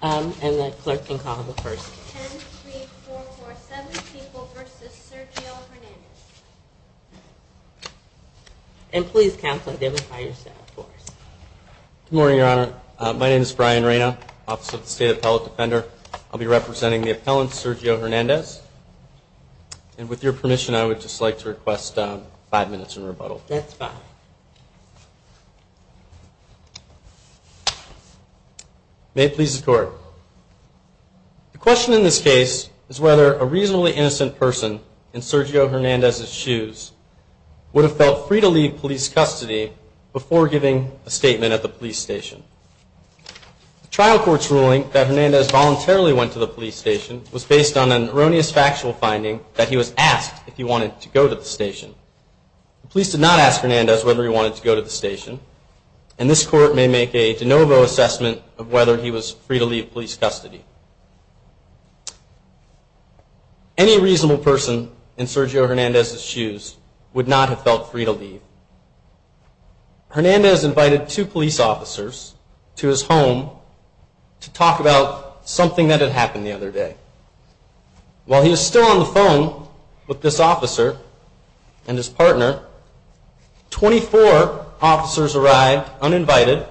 Um, and the clerk can call the 1st 10, 3, 4, 4, 7 people versus Sergio Hernandez. And please counsel, identify yourself for us. Good morning, Your Honor. My name is Brian Reyna, Office of the State Appellate Defender. I'll be representing the appellant, Sergio Hernandez. And with your permission, I would just like to request five minutes in rebuttal. That's fine. May it please the Court. The question in this case is whether a reasonably innocent person in Sergio Hernandez's shoes would have felt free to leave police custody before giving a statement at the police station. The trial court's ruling that Hernandez voluntarily went to the police station was based on an erroneous factual finding that he was asked if he wanted to go to the station. The police did not ask Hernandez whether he wanted to go to the station. And this court may make a de novo assessment of whether he was free to leave police custody. Any reasonable person in Sergio Hernandez's shoes would not have felt free to leave. Hernandez invited two police officers to his home to talk about something that had happened the other day. While he was still on the phone with this officer and his partner, 24 officers arrived uninvited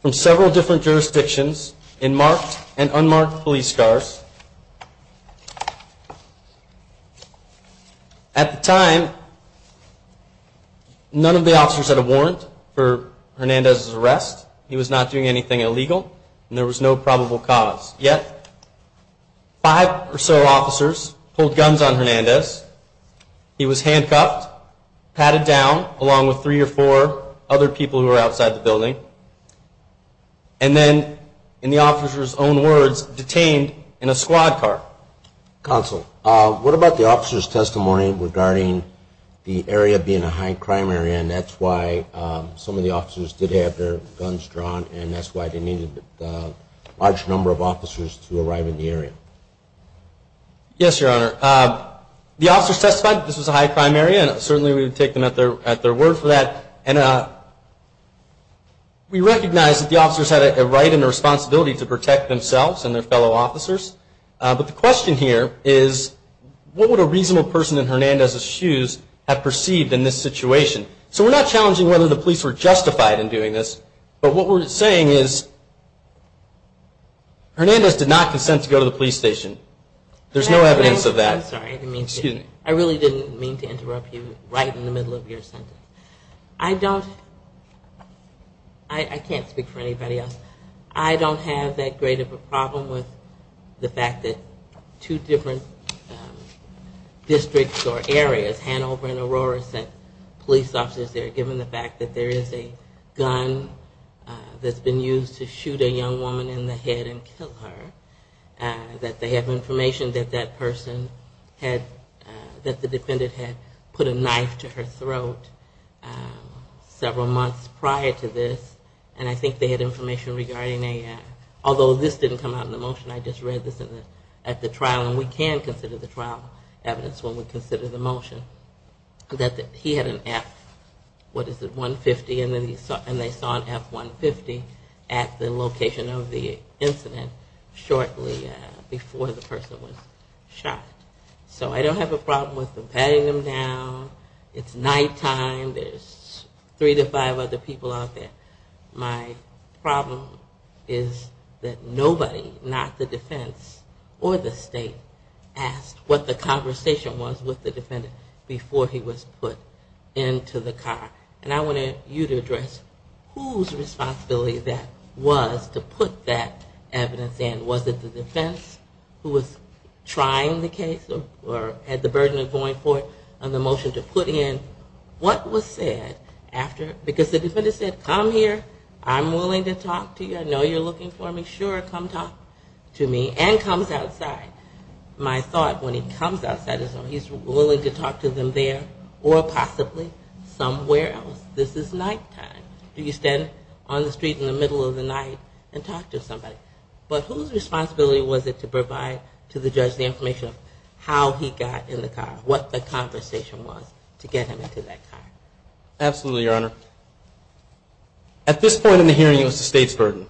from several different jurisdictions in marked and unmarked police cars. At the time, none of the officers had a warrant for Hernandez's arrest. He was not doing anything illegal and there was no probable cause. Yet, five or so officers pulled guns on Hernandez. He was handcuffed, patted down, along with three or four other people who were outside the building, and then, in the officers' own words, detained in a squad car. Counsel, what about the officers' testimony regarding the area being a high-crime area and that's why some of the officers did have their guns drawn and that's why they needed a large number of officers to arrive in the area? Yes, Your Honor. The officers testified that this was a high-crime area and certainly we would take them at their word for that. We recognize that the officers had a right and a responsibility to protect themselves and their fellow officers, but the question here is, what would a reasonable person in Hernandez's shoes have perceived in this situation? So we're not challenging whether the police were justified in doing this, but what we're saying is Hernandez did not consent to go to the police station. There's no evidence of that. I really didn't mean to interrupt you right in the middle of your sentence. I can't speak for anybody else. I don't have that great of a problem with the fact that two different districts or areas, Hanover and Aurora sent police officers there given the fact that there is a gun that's been used to shoot a young woman in the head and kill her, that they have information that that person had, that the defendant had put a knife to her throat several months prior to this, and I think they had information regarding a, although this didn't come out in the motion, I just read this at the trial, and we can consider the trial evidence when we consider the motion, that he had an F, what is it, 150, and they saw an F-150 at the location of the incident shortly before the person was shot. So I don't have a problem with them patting him down, it's nighttime, there's three to five other people out there. My problem is that nobody, not the defense or the state, asked what the conversation was with the defendant before he was put into the car. And I wanted you to address whose responsibility that was to put that evidence in. Was it the defense who was trying the case or had the burden of going for it on the motion to put in? What was said after, because the defendant said, come here, I'm willing to talk to you, I know you're looking for me, sure, come talk to me, and comes outside. My thought when he comes outside is he's willing to talk to them there or possibly somewhere else. This is nighttime. Do you stand on the street in the middle of the night and talk to somebody? But whose responsibility was it to provide to the judge the information of how he got in the car, what the conversation was to get him in the car? Absolutely, Your Honor. At this point in the hearing, it was the state's burden.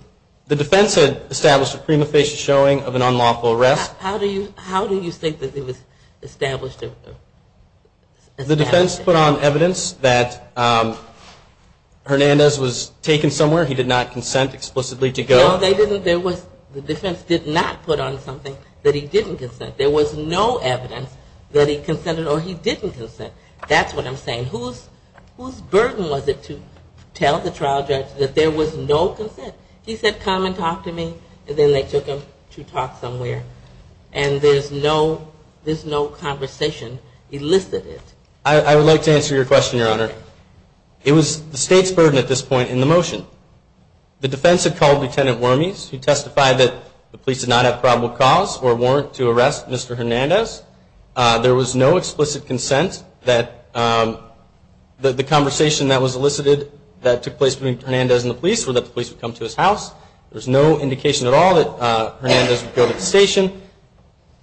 The defense had established a prima facie showing of an unlawful arrest. How do you think that it was established? The defense put on evidence that Hernandez was taken somewhere, he did not consent explicitly to go. No, the defense did not put on something that he didn't consent. There was no evidence that he consented or he didn't consent. That's what I'm saying. Whose burden was it to tell the trial judge that there was no consent? He said, come and talk to me, and then they took him to talk somewhere, and there's no conversation elicited. I would like to answer your question, Your Honor. It was the state's burden at this point in the motion. The defense had called Lt. Wormies, who testified that the police did not have probable cause or warrant to arrest Mr. Hernandez. There was no explicit consent that the conversation that was elicited that took place between Hernandez and the police, or that the police would come to his house. There's no indication at all that Hernandez would go to the station.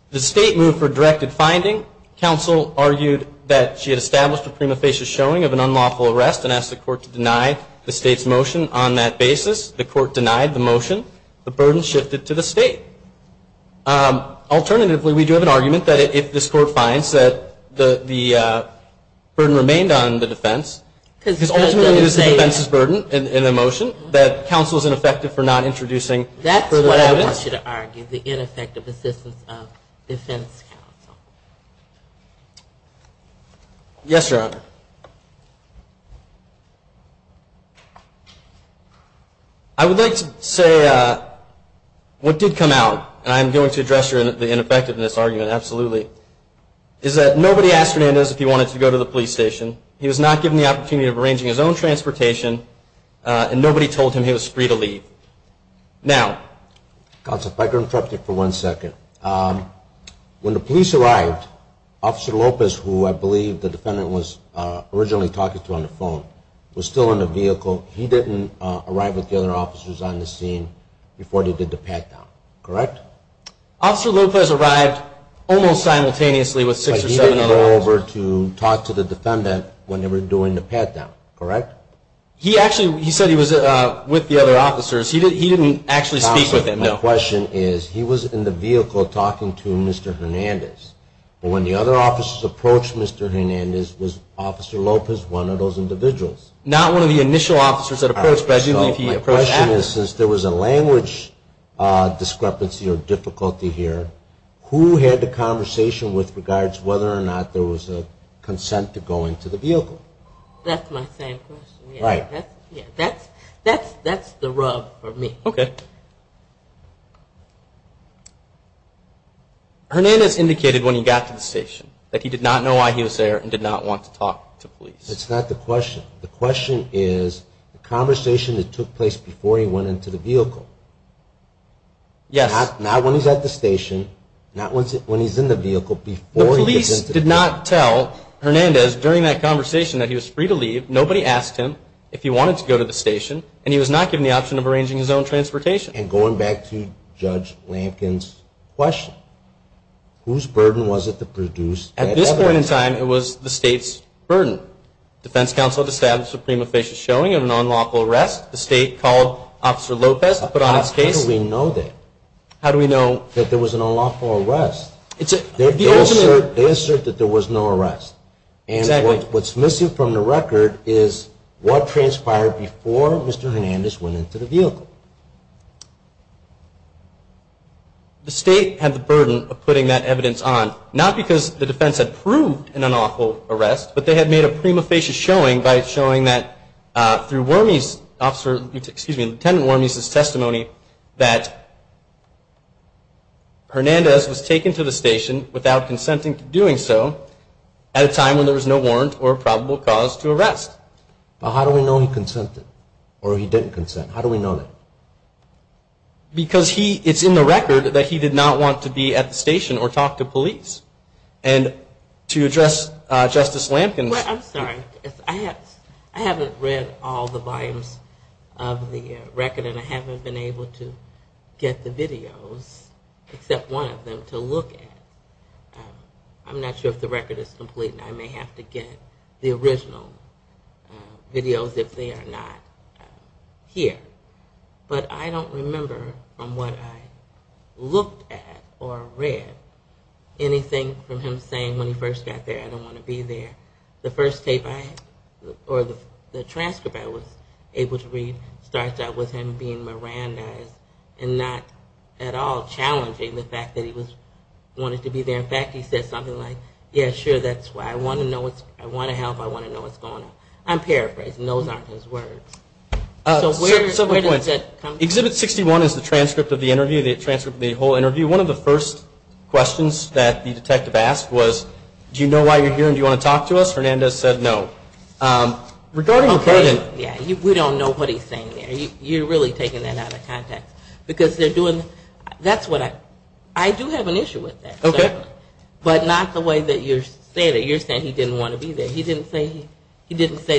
The state moved for a directed finding. Counsel argued that she had established a prima facie showing of an unlawful arrest and asked the court to deny the state's motion on that basis. The court denied the motion. The burden shifted to the state. Alternatively, we do have an argument that if this court finds that the burden remained on the defense, because ultimately this is the defense's burden in the motion, that counsel is ineffective for not introducing further evidence. That's what I want you to argue, the ineffective assistance of defense counsel. Yes, Your Honor. I would like to say what did come out, and I'm going to address the ineffectiveness argument, absolutely, is that nobody asked Hernandez if he wanted to go to the police station. He was not given the opportunity of arranging his own transportation, and nobody told him he was free to leave. Now, counsel, if I could interrupt you for one second. When the police arrived, Officer Lopez, who I believe the defendant was a member of the police department, was arrested. He was arrested, but he did not arrive with the other officers on the scene before they did the pat-down, correct? Officer Lopez arrived almost simultaneously with six or seven other officers. He didn't go over to talk to the defendant when they were doing the pat-down, correct? He actually, he said he was with the other officers. He didn't actually speak with them, no. Counsel, my question is, he was in the vehicle talking to Mr. Hernandez. Was Officer Lopez one of those individuals? Not one of the initial officers that approached, but I believe he approached after. My question is, since there was a language discrepancy or difficulty here, who had the conversation with regards to whether or not there was a consent to go into the vehicle? That's my same question. That's the rub for me. Okay. Hernandez indicated when he got to the station that he did not know why he was there and did not want to talk to police. That's not the question. The question is the conversation that took place before he went into the vehicle. Yes. Not when he's at the station, not when he's in the vehicle, before he gets into the vehicle. Hernandez did not tell Hernandez during that conversation that he was free to leave. Nobody asked him if he wanted to go to the station, and he was not given the option of arranging his own transportation. And going back to Judge Lampkin's question, whose burden was it to produce that evidence? At this point in time, it was the state's burden. Defense counsel had established a prima facie showing of an unlawful arrest. The state called Officer Lopez to put on his case. How do we know that there was an unlawful arrest? They assert that there was no arrest. And what's missing from the record is what transpired before Mr. Hernandez went into the vehicle. The state had the burden of putting that evidence on, not because the defense had proved an unlawful arrest, but they had made a prima facie showing by showing that through Lieutenant Wormey's testimony that Hernandez was taken to the station without consenting to doing so at a time when there was no warrant or probable cause to arrest. But how do we know he consented? Or he didn't consent? How do we know that? Because it's in the record that he did not want to be at the station or talk to police. And to address Justice Lampkin... I'm sorry, I haven't read all the volumes of the record and I haven't been able to get the videos, except one of them to look at. I'm not sure if the record is complete and I may have to get the original videos if they are not here. But I don't remember from what I looked at or read anything from him saying when he first got there, I don't want to be there. The transcript I was able to read starts out with him being Mirandized and not at all challenging the fact that he wanted to be there. In fact, he said something like, yeah, sure, that's why. I want to know, I want to help, I want to know what's going on. I'm paraphrasing. Those aren't his words. Exhibit 61 is the transcript of the whole interview. One of the first questions that the detective asked was, do you know why you're here and do you want to talk to us? Hernandez said no. We don't know what he's saying there. You're really taking that out of context. I do have an issue with that. But not the way that you're saying it. You're saying he didn't want to be there. He didn't say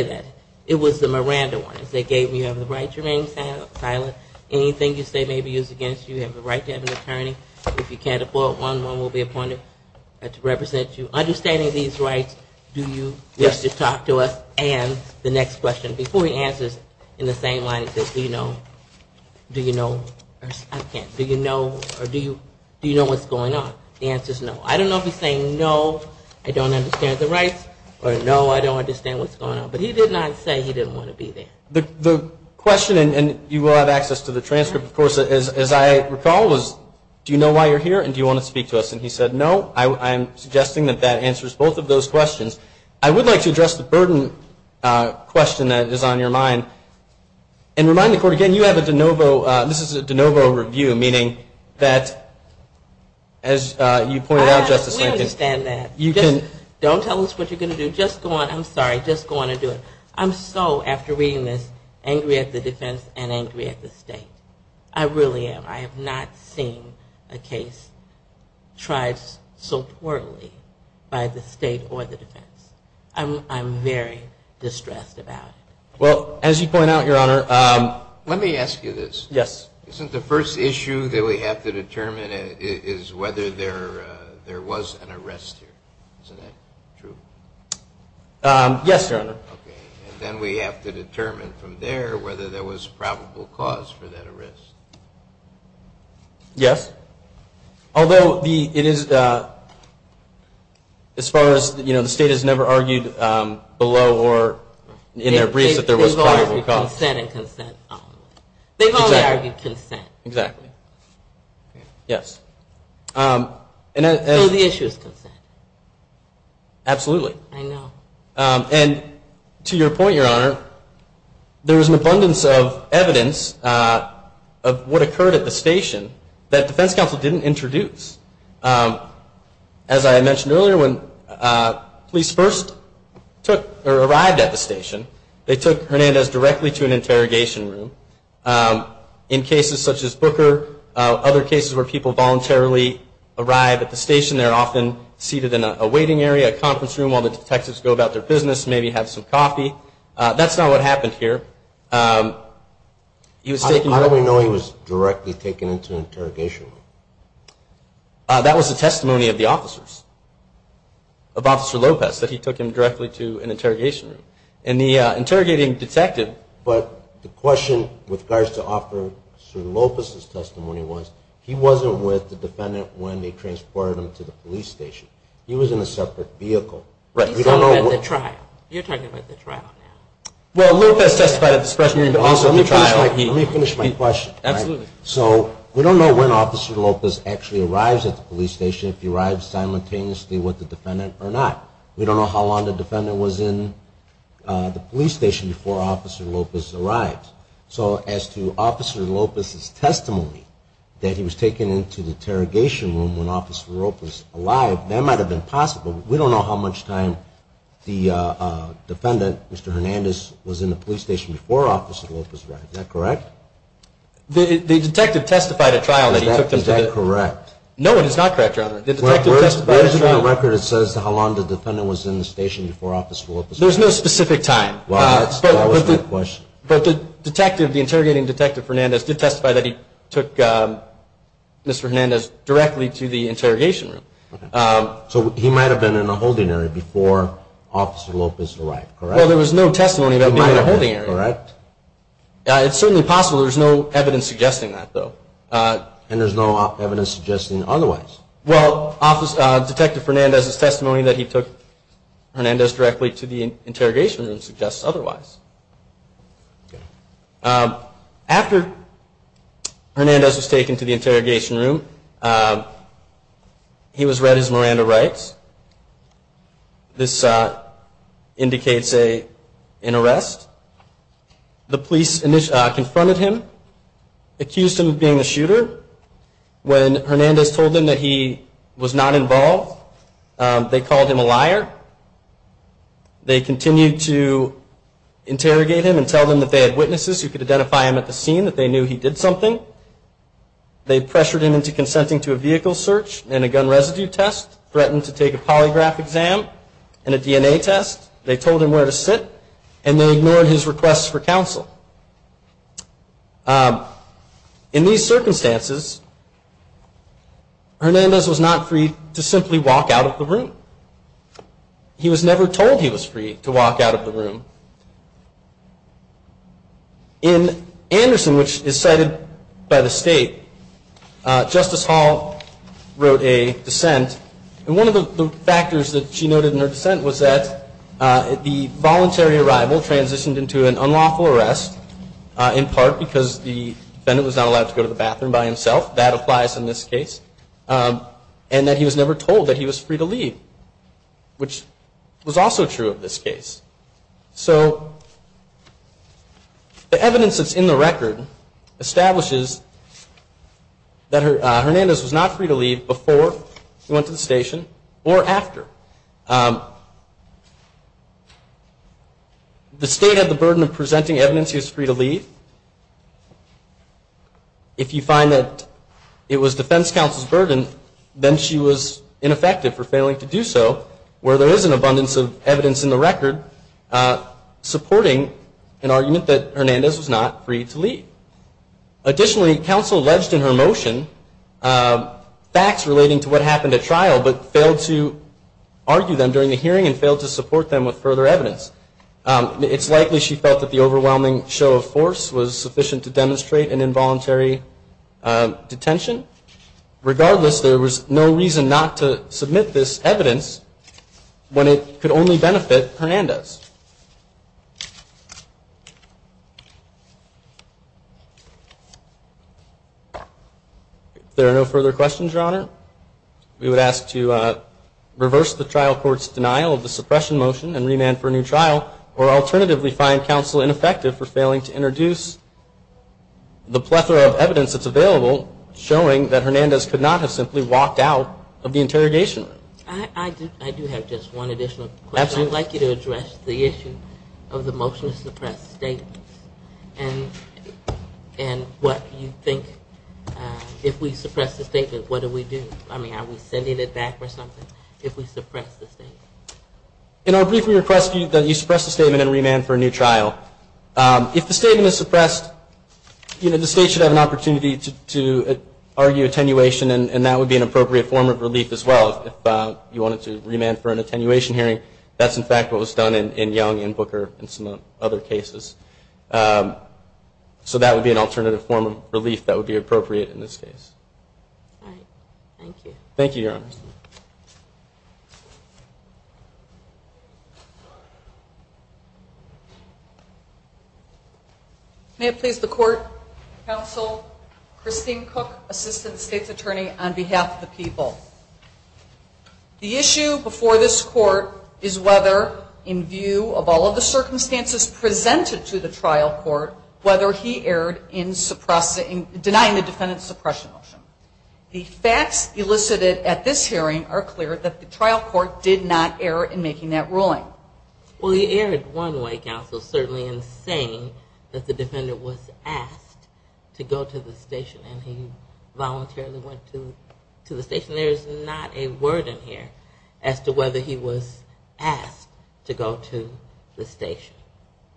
that. It was the Miranda ones. They gave me the right to remain silent. Anything you say may be used against you. You have the right to have an attorney. If you can't afford one, one will be appointed to represent you. Understanding these rights, do you wish to talk to us? And the next question, before he answers in the same line, he says, do you know, do you know, or I can't, do you know, or do you know what's going on? The answer is no. I don't know if he's saying no, I don't understand the rights, or no, I don't understand what's going on. But he did not say he didn't want to be there. The question, and you will have access to the transcript, of course, as I recall, was do you know why you're here and do you want to speak to us? And he said no. I'm suggesting that that answers both of those questions. I would like to address the burden question that is on your mind and remind the Court, again, you have a de novo, this is a de novo review, meaning that, as you pointed out, Justice Lincoln, I understand that. Don't tell us what you're going to do. Just go on. I'm sorry. Just go on and do it. I'm so, after reading this, angry at the defense and angry at the state. I really am. I have not seen a case tried so poorly by the state or the defense. I'm very distressed about it. Well, as you point out, Your Honor, let me ask you this. Yes. Isn't the first issue that we have to determine is whether there was an arrest here? Isn't that true? Yes, Your Honor. And then we have to determine from there whether there was probable cause for that arrest. Yes. Although it is, as far as, you know, the state has never argued below or in their briefs that there was probable cause. They've only argued consent. Exactly. So the issue is consent. Absolutely. And to your point, Your Honor, there is an abundance of evidence of what occurred at the station that defense counsel didn't introduce. As I mentioned earlier, when police first arrived at the station, they took Hernandez directly to an interrogation room. In cases such as Booker, other cases where people voluntarily arrive at the station, they're often seated in a waiting area, a conference room while the detectives go about their business, maybe have some coffee. That's not what happened here. How do we know he was directly taken into an interrogation room? That was the testimony of the officers, of Officer Lopez, that he took him directly to an interrogation room. But the question with regards to Officer Lopez's testimony was, he wasn't with the defendant when they transported him to the police station. He was in a separate vehicle. He's talking about the trial. You're talking about the trial now. Let me finish my question. So we don't know when Officer Lopez actually arrives at the police station, if he arrives simultaneously with the defendant or not. We don't know how long the defendant was in the police station before Officer Lopez arrived. So as to Officer Lopez's testimony that he was taken into the interrogation room when Officer Lopez arrived, that might have been possible. We don't know how much time the defendant, Mr. Hernandez, was in the police station before Officer Lopez arrived. Is that correct? Is that correct? No, it is not correct, Your Honor. There isn't a record that says how long the defendant was in the station before Officer Lopez arrived. There's no specific time. But the interrogating detective did testify that he took Mr. Hernandez directly to the interrogation room. So he might have been in a holding area before Officer Lopez arrived, correct? Well, there was no testimony about him being in a holding area. It's certainly possible there's no evidence suggesting that, though. And there's no evidence suggesting otherwise? Well, Detective Hernandez's testimony that he took Mr. Hernandez directly to the interrogation room suggests otherwise. After Mr. Hernandez was taken to the interrogation room, he was read his Miranda rights. This indicates an arrest. The police confronted him, accused him of being the shooter. When Hernandez told them that he was not involved, they called him a liar. They continued to interrogate him and tell them that they had witnesses who could identify him at the scene, that they knew he did something. They pressured him into consenting to a vehicle search and a gun residue test, threatened to take a polygraph exam and a DNA test. They told him where to sit, and they ignored his requests for counsel. In these circumstances, Hernandez was not free to simply walk out of the room. He was never told he was free to walk out of the room. In Anderson, which is cited by the State, Justice Hall wrote a dissent. And one of the factors that she noted in her dissent was that the voluntary arrival transitioned into an unlawful arrest, in part because the defendant was not allowed to go to the bathroom by himself. That applies in this case. And that he was never told that he was free to leave, which was also true of this case. So the evidence that's in the record establishes that Hernandez was not free to leave before he went to the station or after. The State had the burden of presenting evidence he was free to leave. If you find that it was defense counsel's burden, then she was ineffective for failing to do so, where there is an abundance of evidence in the record supporting an argument that Hernandez was not free to leave. Additionally, counsel alleged in her motion facts relating to what happened at trial, but failed to argue them during the hearing and failed to support them with further evidence. It's likely she felt that the overwhelming show of force was sufficient to demonstrate an involuntary detention. Regardless, there was no reason not to submit this evidence when it could only benefit Hernandez. If there are no further questions, Your Honor, we would ask to file or alternatively find counsel ineffective for failing to introduce the plethora of evidence that's available showing that Hernandez could not have simply walked out of the interrogation room. I do have just one additional question. I'd like you to address the issue of the motion to suppress statements. And what you think, if we suppress the statement, what do we do? I mean, are we sending it back or something, if we suppress the statement? In our brief, we request that you suppress the statement and remand for a new trial. If the statement is suppressed, the state should have an opportunity to argue attenuation, and that would be an appropriate form of relief as well. If you wanted to remand for an attenuation hearing, that's in fact what was done in Young and Booker and some other cases. So that would be an alternative form of relief that would be appropriate in this case. All right. Thank you. Thank you, Your Honor. May it please the Court, Counsel Christine Cook, Assistant State's Attorney, on behalf of the people. The issue before this Court is whether, in view of all of the circumstances presented to the trial court, whether he erred in denying the defendant's suppression motion. The facts elicited at this hearing are clear that the trial court did not err in making that ruling. Well, he erred one way, Counsel, certainly in saying that the defendant was asked to go to the station and he voluntarily went to the station. There is not a word in here as to whether he was asked to go to the station.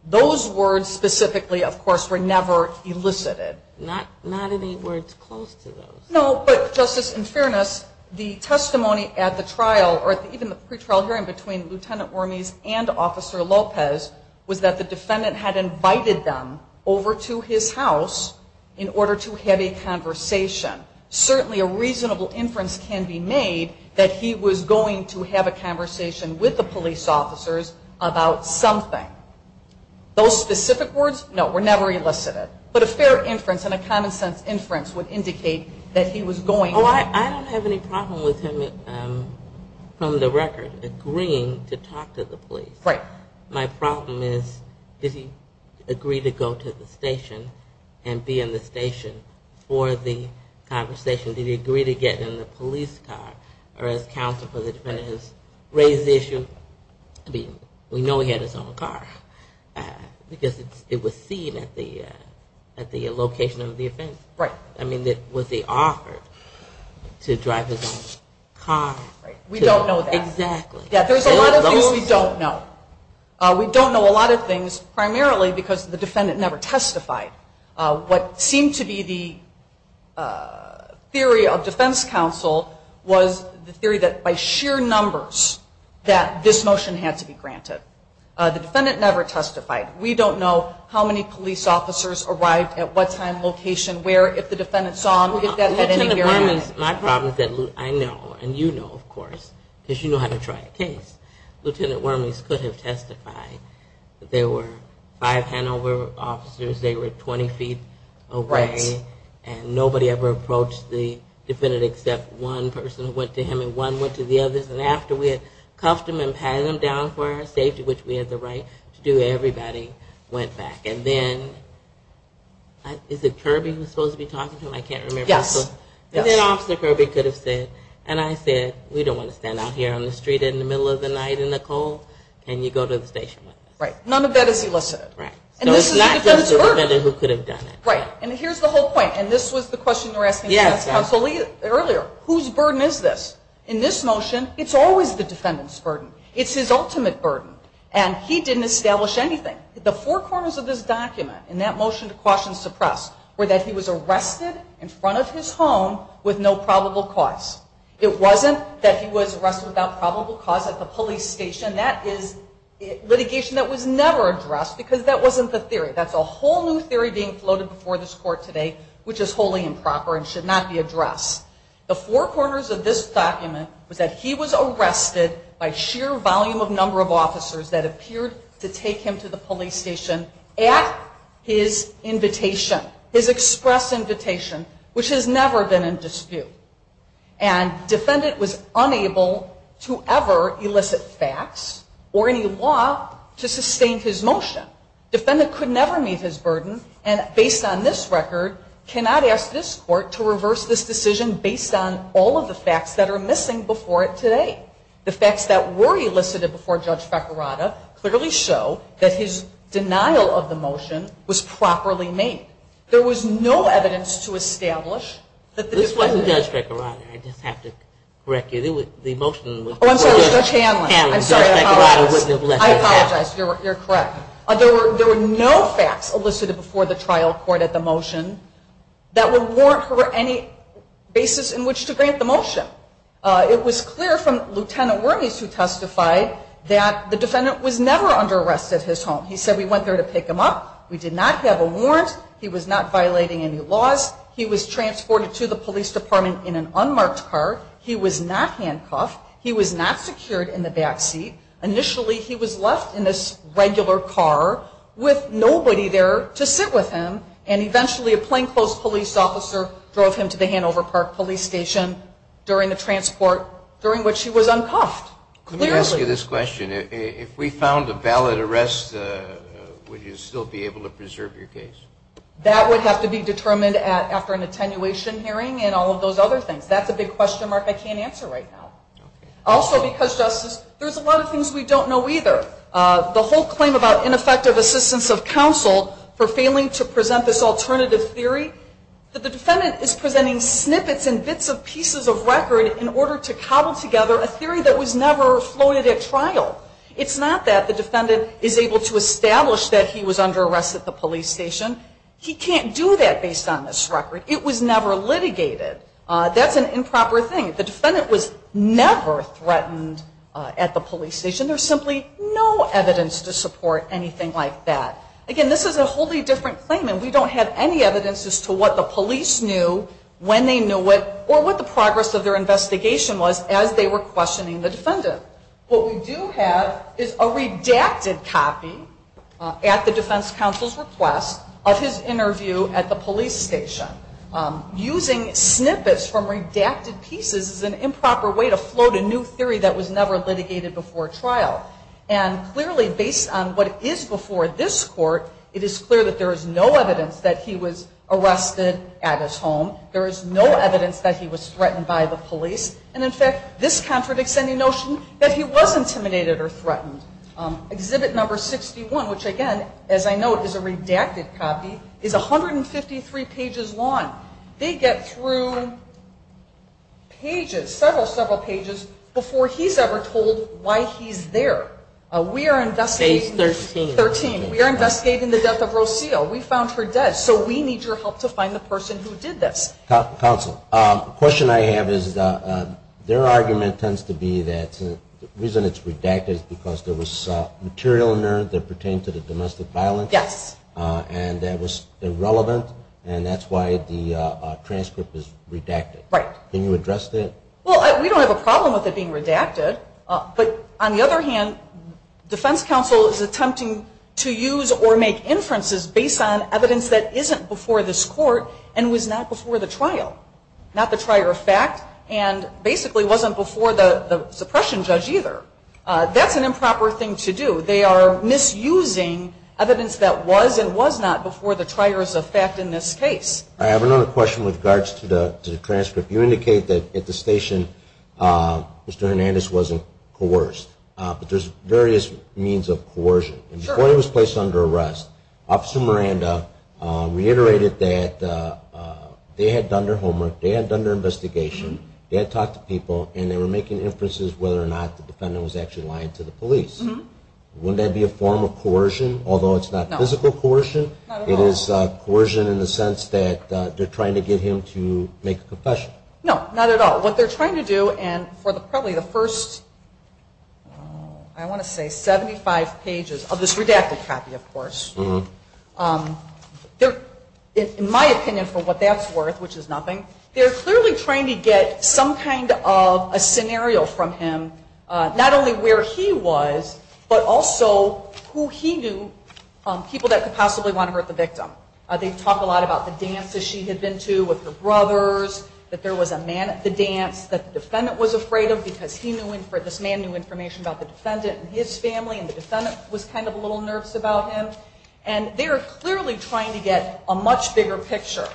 Those words specifically, of course, were never elicited. Not any words close to those. No, but, Justice, in fairness, the testimony at the trial, or even the pre-trial hearing between Lieutenant Wormese and Officer Lopez was that the defendant had invited them over to his house in order to have a conversation. Certainly a reasonable inference can be made that he was going to have a conversation with the police officers about something. Those specific words, no, were never elicited. But a fair inference and a common sense inference would indicate that he was going to Oh, I don't have any problem with him, from the record, agreeing to talk to the police. Right. My problem is, did he agree to go to the station and be in the station for the conversation? Did he agree to get in the police car? Or as counsel for the defendant has raised the issue, we know he had his own car. Because it was seen at the location of the offense. Right. I mean, was he offered to drive his own car? We don't know that. There's a lot of things we don't know. We don't know a lot of things primarily because the defendant never testified. What seemed to be the theory of defense counsel was the theory that by sheer numbers that this motion had to be granted. The defendant never testified. We don't know how many police officers arrived at what time, location, where, if the defendant saw him. Lieutenant Wormley, my problem is that I know, and you know, of course, because you know how to try a case. Lieutenant Wormley could have testified that there were five handover officers. Right. And nobody ever approached the defendant except one person who went to him and one went to the others. And after we had cuffed him and pat him down for our safety, which we had the right to do, everybody went back. And then, is it Kirby who was supposed to be talking to him? I can't remember. Yes. And then Officer Kirby could have said, and I said, we don't want to stand out here on the street in the middle of the night in the cold, can you go to the station with me? None of that is elicited. Whose burden is this? In this motion, it's always the defendant's burden. It's his ultimate burden. And he didn't establish anything. The four corners of this document in that motion to caution and suppress were that he was arrested in front of his home with no probable cause. It wasn't that he was arrested without probable cause at the police station. That is litigation that was never addressed because that wasn't the theory. That's a whole new theory being floated before this court today, which is wholly improper and should not be addressed. The four corners of this document was that he was arrested by sheer volume of number of officers that appeared to take him to the police station at his invitation, his express invitation, which has never been in dispute. And defendant was unable to ever elicit facts or any law to sustain his motion. Defendant could never meet his burden, and based on this record, cannot ask this court to reverse this decision based on all of the facts that are missing before it today. The facts that were elicited before Judge Fekirada clearly show that his denial of the motion was properly made. There was no evidence to establish that the defendant... There were no facts elicited before the trial court at the motion that would warrant for any basis in which to grant the motion. It was clear from Lt. Wormey's who testified that the defendant was never under arrest at his home. He said, we went there to pick him up, we did not have a warrant, he was not violating any laws, he was transported to the police department in an unmarked car, he was not handcuffed, he was not secured in the back seat, initially he was left in this regular car with nobody there to sit with him, and eventually a plainclothes police officer drove him to the Hanover Park police station during the transport during which he was uncuffed. Let me ask you this question. If we found a valid arrest, would you still be able to preserve your case? That would have to be determined after an attenuation hearing and all of those other things. That's a big question mark I can't answer right now. Also because Justice, there's a lot of things we don't know either. The whole claim about ineffective assistance of counsel for failing to present this alternative theory, that the defendant is presenting snippets and bits of pieces of record in order to cobble together a theory that was never floated at trial. It's not that the defendant is able to establish that he was under arrest at the police station. He can't do that based on this record. It was never litigated. That's an improper thing. The defendant was never threatened at the police station. There's simply no evidence to support anything like that. Again, this is a wholly different claim and we don't have any evidence as to what the police knew when they knew it or what the progress of their investigation was as they were questioning the defendant. What we do have is a redacted copy at the defense counsel's request of his interview at the police station. Using snippets from redacted pieces is an improper way to float a new theory that was never litigated before trial. And clearly based on what is before this court, it is clear that there is no evidence that he was arrested at his home. There is no evidence that he was threatened by the police. And in fact, this contradicts any notion that he was intimidated or threatened. Exhibit number 61, which again, as I note, is a redacted copy, is 153 pages long. They get through pages, several, several pages before he's ever told why he's there. Page 13. We are investigating the death of Rocio. We found her dead. So we need your help to find the person who did this. Counsel, the question I have is their argument tends to be that the reason it's redacted is because there was material in there that pertained to the domestic violence. Yes. And that was irrelevant and that's why the transcript is redacted. Can you address that? Well, we don't have a problem with it being redacted. But on the other hand, defense counsel is attempting to use or make inferences based on evidence that isn't before this court and was not before the trial, not the trier of fact, and basically wasn't before the suppression judge either. That's an improper thing to do. They are misusing evidence that was and was not before the trier of fact in this case. I have another question with regards to the transcript. You indicate that at the station Mr. Hernandez wasn't coerced. But there's various means of coercion. Sure. Before he was placed under arrest, Officer Miranda reiterated that they had done their homework, they had done their investigation, they had talked to people, and they were making inferences whether or not the defendant was actually lying to the police. Wouldn't that be a form of coercion, although it's not physical coercion? It is coercion in the sense that they're trying to get him to make a confession. No, not at all. What they're trying to do, and for probably the first, I want to say, 75 pages of this redacted copy, of course, in my opinion for what that's worth, which is nothing, they're clearly trying to get some kind of a scenario from him, not only where he was, but also who he knew, people that could possibly want to hurt the victim. They talk a lot about the dances she had been to with her brothers, that there was a man at the dance that the defendant was afraid of because this man knew information about the defendant and his family and the defendant was kind of a little nervous about him. And they're clearly trying to get a much bigger picture.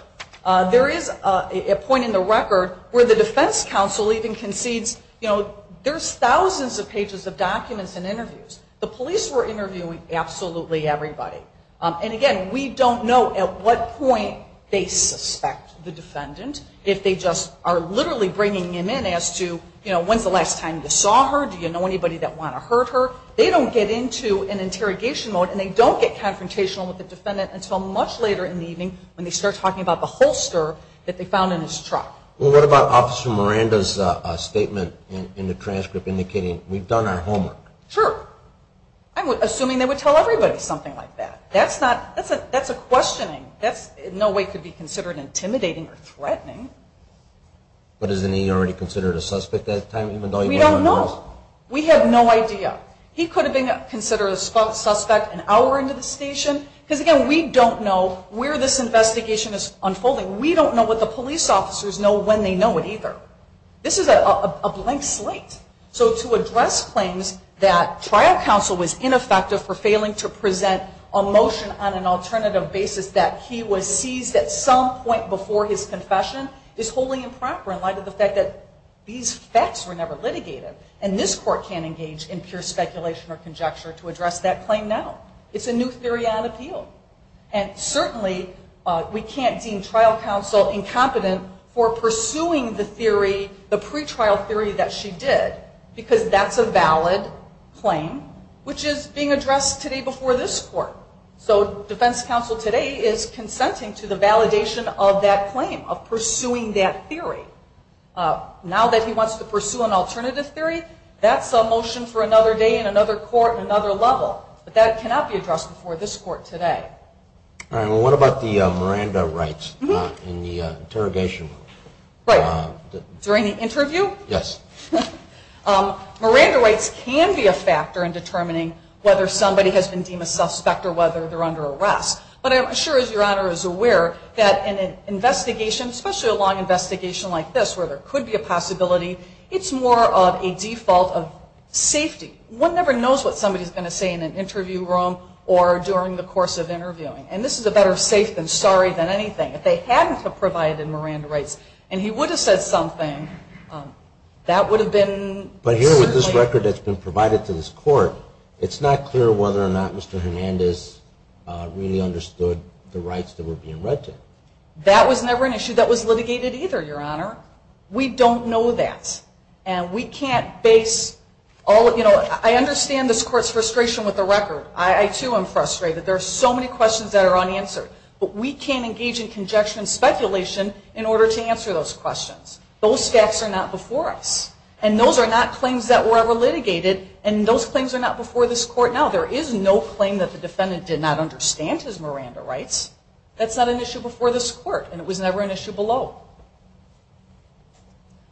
There is a point in the record where the defense council even concedes, you know, there's thousands of pages of documents and interviews. The police were interviewing absolutely everybody. And again, we don't know at what point they suspect the defendant if they just are literally bringing him in as to, you know, when's the last time you saw her? Do you know anybody that want to hurt her? They don't get into an interrogation mode and they don't get confrontational with the defendant until much later in the evening when they start talking about the holster that they found in his truck. Well, what about Officer Miranda's statement in the transcript indicating we've done our homework? Sure. I'm assuming they would tell everybody something like that. That's a questioning. That in no way could be considered intimidating or threatening. But isn't he already considered a suspect at that time? We don't know. We have no idea. He could have been considered a suspect an hour into the station. Because again, we don't know where this investigation is unfolding. We don't know what the police officers know when they know it either. This is a blank slate. So to address claims that trial counsel was ineffective for failing to present a motion on an alternative basis that he was seized at some point before his confession is wholly improper in light of the fact that these facts were never litigated. And this court can't engage in pure speculation or conjecture to address that claim now. It's a new theory on appeal. And certainly we can't deem trial counsel incompetent for pursuing the theory, the pretrial theory that she did. Because that's a valid claim, which is being addressed today before this court. So defense counsel today is consenting to the validation of that claim, of pursuing that theory. Now that he wants to pursue an alternative theory, that's a motion for another day in another court at another level. But that cannot be addressed before this court today. What about the Miranda rights in the interrogation room? Right. During the interview? Yes. Miranda rights can be a factor in determining whether somebody has been deemed a suspect or whether they're under arrest. But I'm sure Your Honor is aware that in an investigation, especially a long investigation like this where there could be a possibility, it's more of a default of safety. One never knows what somebody is going to say in an interview room or during the course of interviewing. And this is a better safe than sorry than anything. If they hadn't provided Miranda rights and he would have said something, that would have been... But here with this record that's been provided to this court, it's not clear whether or not Mr. Hernandez really understood the rights that were being read to him. That was never an issue that was litigated either, Your Honor. We don't know that. And we can't base all... I understand this court's frustration with the record. I too am frustrated. There are so many questions that are unanswered. But we can't engage in conjecture and speculation in order to answer those questions. Those facts are not before us. And those are not claims that were ever litigated. And those claims are not before this court now. There is no claim that the defendant did not understand his Miranda rights. That's not an issue before this court. And it was never an issue below.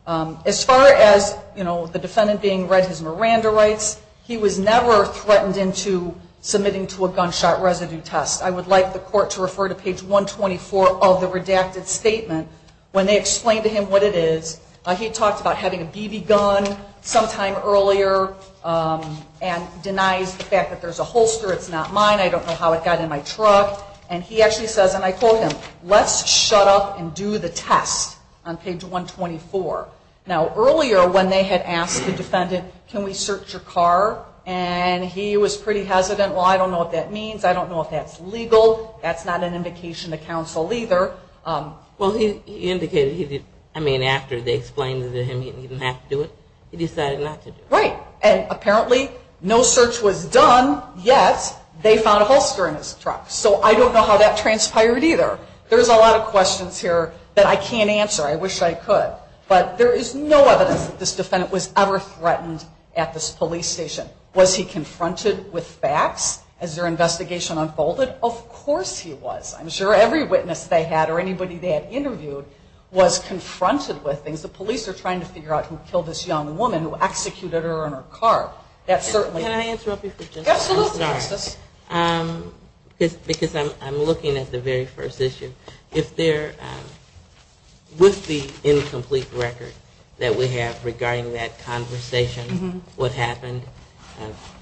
As far as the defendant being read his Miranda rights, he was never threatened into submitting to a gunshot residue test. I would like the court to refer to page 124 of the redacted statement when they explained to him what it is. He talked about having a BB gun sometime earlier and denies the fact that there's a holster. It's not mine. I don't know how it got in my truck. And he actually says, and I quote him, let's shut up and do the test on page 124. Now, earlier when they had asked the defendant, can we search your car? And he was pretty hesitant. Well, I don't know what that means. I don't know if that's legal. That's not an indication to counsel either. Well, he indicated he didn't. I mean, after they explained it to him, he didn't have to do it. He decided not to do it. Right. And apparently no search was done, yet they found a holster in his truck. So I don't know how that transpired either. There's a lot of questions here that I can't answer. I wish I could. But there is no evidence that this defendant was ever threatened at this police station. Was he confronted with facts as their investigation unfolded? Of course he was. I'm sure every witness they had or anybody they had interviewed was confronted with things. The police are trying to figure out who killed this young woman, who executed her in her car. Can I interrupt you for just one second? Absolutely, Justice. Because I'm looking at the very first issue. If there, with the incomplete record that we have regarding that conversation, what happened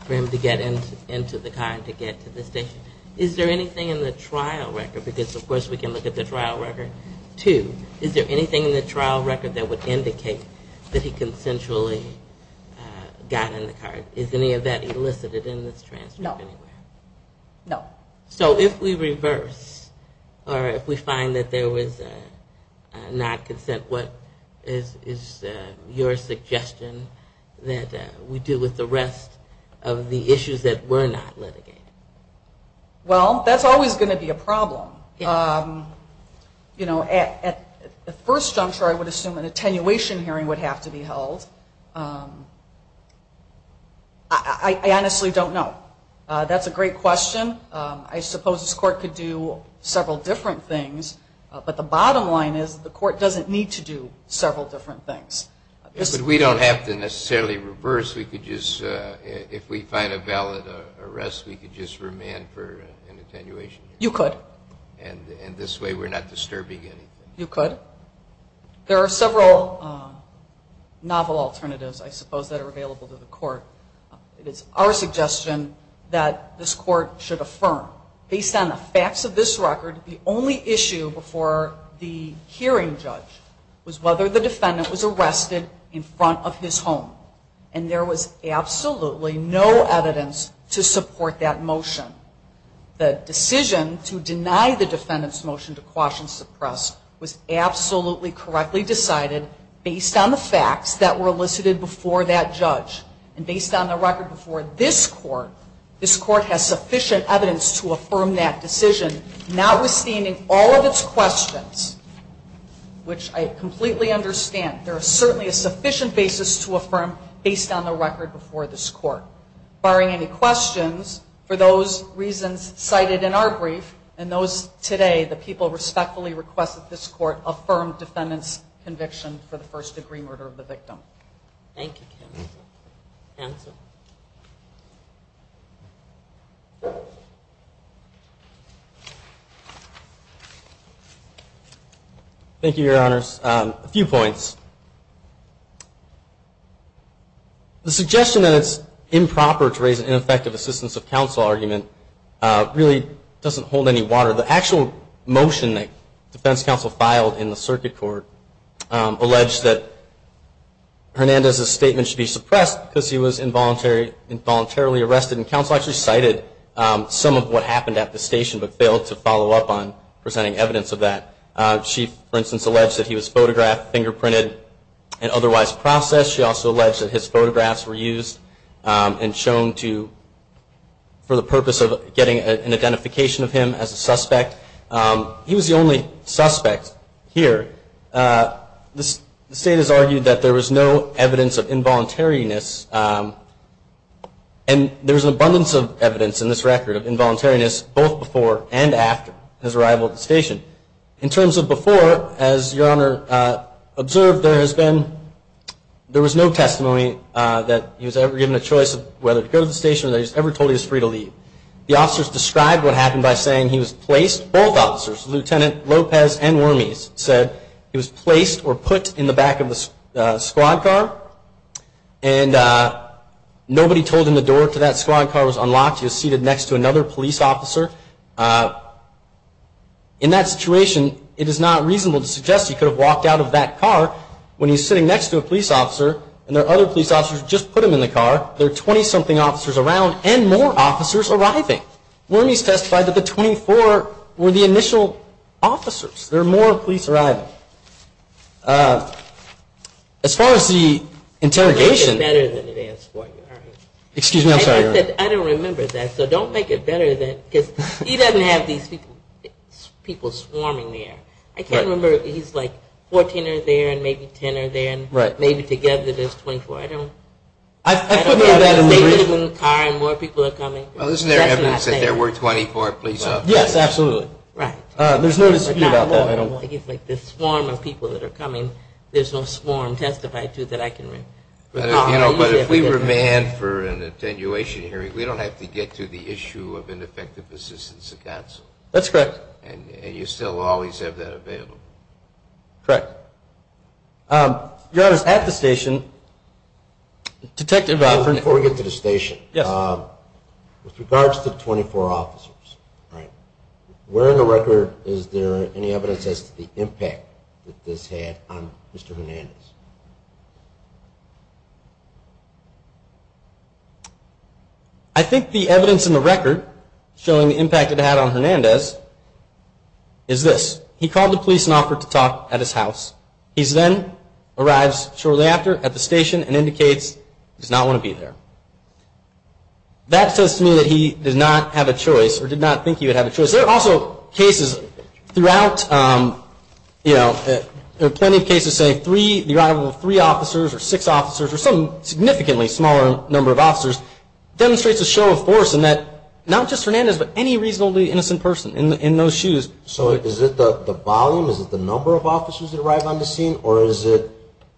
for him to get into the car and to get to the station, is there anything in the trial record? Because of course we can look at the trial record. Two, is there anything in the trial record that would indicate that he consensually got in the car? Is any of that elicited in this transcript? No. So if we reverse, or if we find that there was not consent, what is your suggestion that we do with the rest of the issues that were not litigated? Well, that's always going to be a problem. At first, I'm sure I would assume an attenuation hearing would have to be held. I honestly don't know. That's a great question. I suppose this Court could do several different things, but the bottom line is the Court doesn't need to do several different things. But we don't have to necessarily reverse. If we find a valid arrest, we could just remand for an attenuation hearing. You could. And this way we're not disturbing anything. You could. There are several novel alternatives, I suppose, that are available to the Court. It is our suggestion that this Court should affirm, based on the facts of this record, the only issue before the hearing judge was whether the defendant was arrested in front of his home. And there was absolutely no evidence to support that motion. The decision to deny the defendant's motion to quash and suppress was absolutely correctly decided based on the facts that were elicited before that judge. And based on the record before this Court, this Court has sufficient evidence to affirm that decision, notwithstanding all of its questions, which I completely understand. There is certainly a sufficient basis to affirm based on the record before this Court. Barring any questions, for those reasons cited in our brief, and those today, the people respectfully request that this Court affirm defendant's conviction for the first degree murder of the victim. Thank you, counsel. Thank you, Your Honors. A few points. The suggestion that it's improper to raise an ineffective assistance of counsel argument really doesn't hold any water. The actual motion that defense counsel filed in the circuit court alleged that Hernandez's statement should be suppressed because he was involuntarily arrested. And counsel actually cited some of what happened at the station, but failed to follow up on presenting evidence of that. She, for instance, alleged that he was photographed, fingerprinted, and otherwise processed. She also alleged that his photographs were used and shown for the purpose of getting an identification of him as a suspect. He was the only suspect here. The state has argued that there was no evidence of involuntariness. And there's an abundance of evidence in this record of involuntariness, both before and after his arrival at the station. In terms of before, as Your Honor observed, there has been there was no testimony that he was ever given a choice of whether to go to the station or that he was ever told he was free to leave. The officers described what happened by saying he was placed, both officers, Lieutenant Lopez and Wormese said he was placed or put in the back of the squad car. And nobody told him the door to that squad car was there. In that situation, it is not reasonable to suggest he could have walked out of that car when he's sitting next to a police officer and there are other police officers who just put him in the car. There are 20-something officers around and more officers arriving. Wormese testified that the 24 were the initial officers. There are more police arriving. As far as the interrogation... I said I don't remember that, so don't make it better than... He doesn't have these people swarming there. I can't remember if he's like 14 or there and maybe 10 or there and maybe together there's 24. I don't know. More people are coming. There's no dispute about that. The swarm of people that are coming, there's no swarm testified to that I can remember. But if we remand for an attenuation hearing, we don't have to get to the issue of ineffective assistance of counsel. That's correct. And you still always have that available. Correct. Your Honor, at the station, Detective... Before we get to the station, with regards to 24 officers, where in the record is there any evidence as to the impact that this had on Mr. Hernandez? I think the evidence in the record showing the impact it had on Hernandez is this. He called the police and offered to talk at his house. He then arrives shortly after at the station and indicates he does not want to be there. That says to me that he did not have a choice or did not think he would have a choice. There are also cases throughout, you know, there are plenty of cases saying the arrival of three officers or six officers or some significantly smaller number of officers demonstrates a show of force in that not just Hernandez but any reasonably innocent person in those shoes. So is it the volume? Is it the number of officers that arrive on the scene? Or is it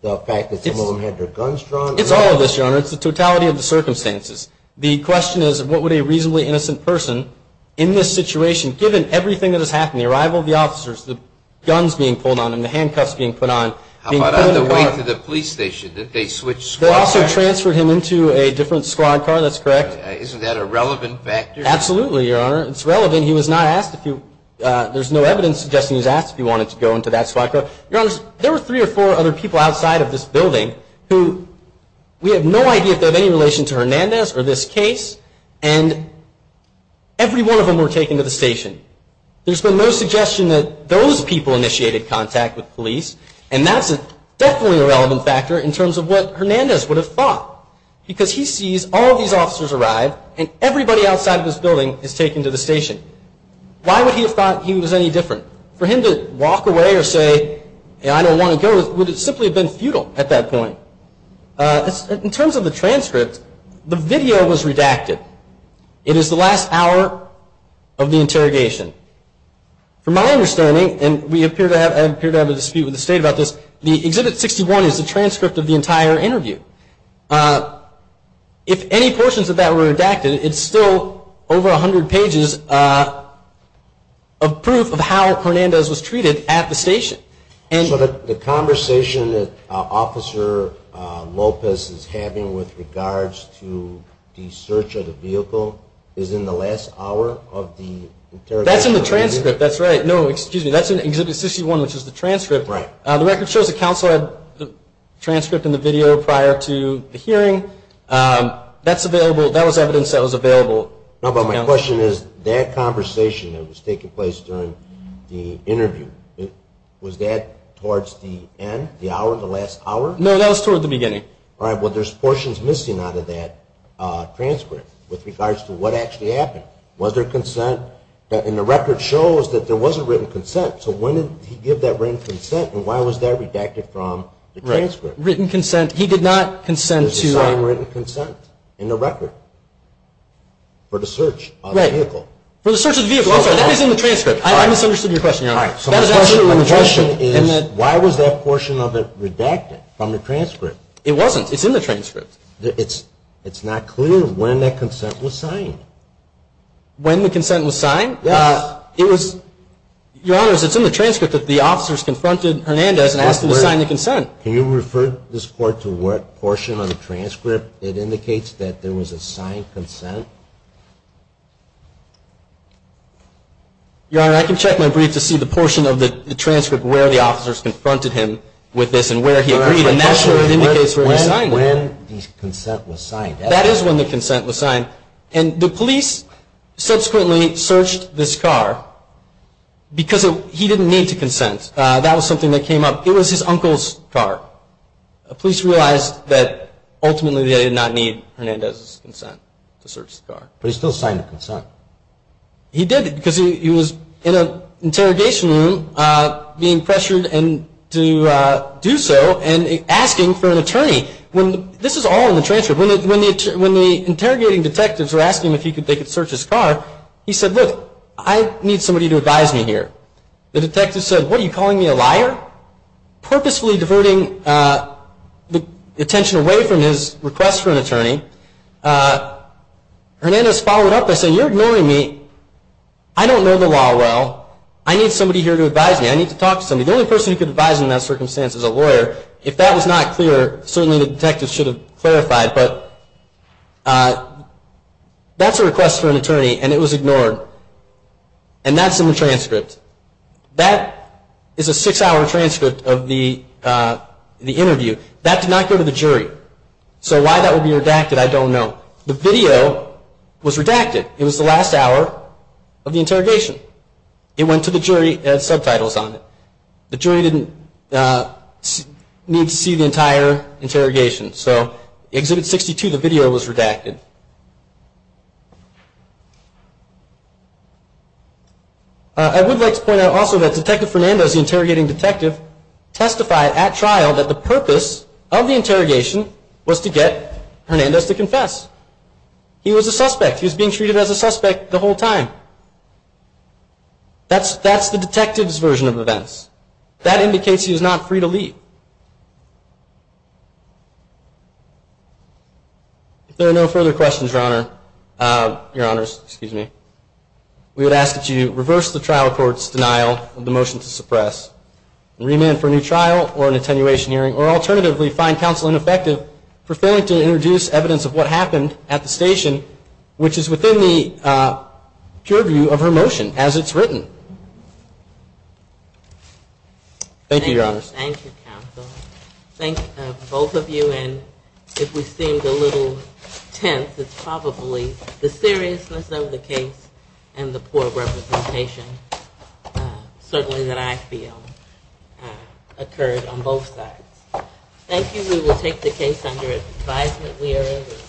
the fact that some of them had their guns drawn? It's all of this, Your Honor. It's the totality of the circumstances. The question is what would a reasonably innocent person in this situation, given everything that has happened, the arrival of the officers, the guns being pulled on them, the handcuffs being put on... How about on the way to the police station that they switched squad cars? They also transferred him into a different squad car. That's correct. Isn't that a relevant factor? Absolutely, Your Honor. It's relevant. He was not asked if you, there's no evidence suggesting he was asked if he wanted to go into that squad car. There were three or four other people outside of this building who we have no idea if they have any relation to Hernandez or this case and every one of them were taken to the station. There's been no suggestion that those people initiated contact with police and that's definitely a relevant factor in terms of what Hernandez would have thought because he sees all of these officers arrive and everybody outside of this building is taken to the station. Why would he have thought he was any different? For him to walk away or say I don't want to go would have simply been futile at that point. In terms of the transcript, the video was redacted. It is the last hour of the interrogation. From my understanding, and I appear to have a dispute with the State about this, the Exhibit 61 is the transcript of the entire interview. If any portions of that were redacted, it's still over 100 pages of proof of how Hernandez was treated at the station. So the conversation that Officer Lopez is having with regards to the search of the vehicle is in the last hour of the interrogation? That's in the transcript, that's right. No, excuse me, that's in Exhibit 61, which is the transcript. The record shows the counsel had the transcript and the video prior to the hearing. That was evidence that was available. My question is, that conversation that was taking place during the interview, was that towards the end, the hour, the last hour? No, that was towards the beginning. All right, well, there's portions missing out of that transcript with regards to what actually happened. Was there consent? And the record shows that there was a written consent. So when did he give that written consent, and why was that redacted from the transcript? There's a signed written consent in the record for the search of the vehicle. For the search of the vehicle, that is in the transcript. I misunderstood your question, Your Honor. All right, so my question is, why was that portion of it redacted from the transcript? It wasn't, it's in the transcript. It's not clear when that consent was signed. When the consent was signed? Yes. Your Honor, it's in the transcript that the officers confronted Hernandez and asked him to sign the consent. Can you refer this court to what portion of the transcript it indicates that there was a signed consent? Your Honor, I can check my brief to see the portion of the transcript where the officers confronted him with this and where he agreed, and that's where it indicates where he signed it. When the consent was signed. That is when the consent was signed. And the police subsequently searched this car because he didn't need to consent. That was something that came up. It was his uncle's car. The police realized that ultimately they did not need Hernandez's consent to search the car. But he still signed the consent. He did because he was in an interrogation room being pressured to do so and asking for an attorney. This is all in the transcript. When the interrogating detectives were asking him if they could search his car, he said, look, I need somebody to advise me here. The detective said, what are you calling me, a liar? Purposefully diverting the attention away from his request for an attorney. Hernandez followed up by saying, you're ignoring me. I don't know the law well. I need somebody here to advise me. I need to talk to somebody. The only person who can advise in that circumstance is a lawyer. If that was not clear, certainly the detectives should have clarified. But that's a request for an attorney and it was ignored. And that's in the transcript. That is a six-hour transcript of the interview. That did not go to the jury. So why that would be redacted, I don't know. The video was redacted. It was the last hour of the interrogation. It went to the jury. It had subtitles on it. The jury didn't need to see the entire interrogation. So in Exhibit 62, the video was redacted. I would like to point out also that Detective Fernandez, the interrogating detective, testified at trial that the purpose of the interrogation was to get Hernandez to confess. He was a suspect. He was being treated as a suspect the whole time. That's the detective's version of events. That indicates he was not free to leave. If there are no further questions, Your Honors, we would ask that you reverse the trial court's denial of the motion to suppress and remand for a new trial or an attenuation hearing, or alternatively find counsel ineffective, preferring to introduce evidence of what happened at the station, which is within the purview of her motion as it's written. Thank you, Your Honors. Thank you, counsel. Thank both of you. And if we seemed a little tense, it's probably the seriousness of the case and the poor representation, certainly that I feel, occurred on both sides. Thank you. We will take the case under advisement. We are adjourned.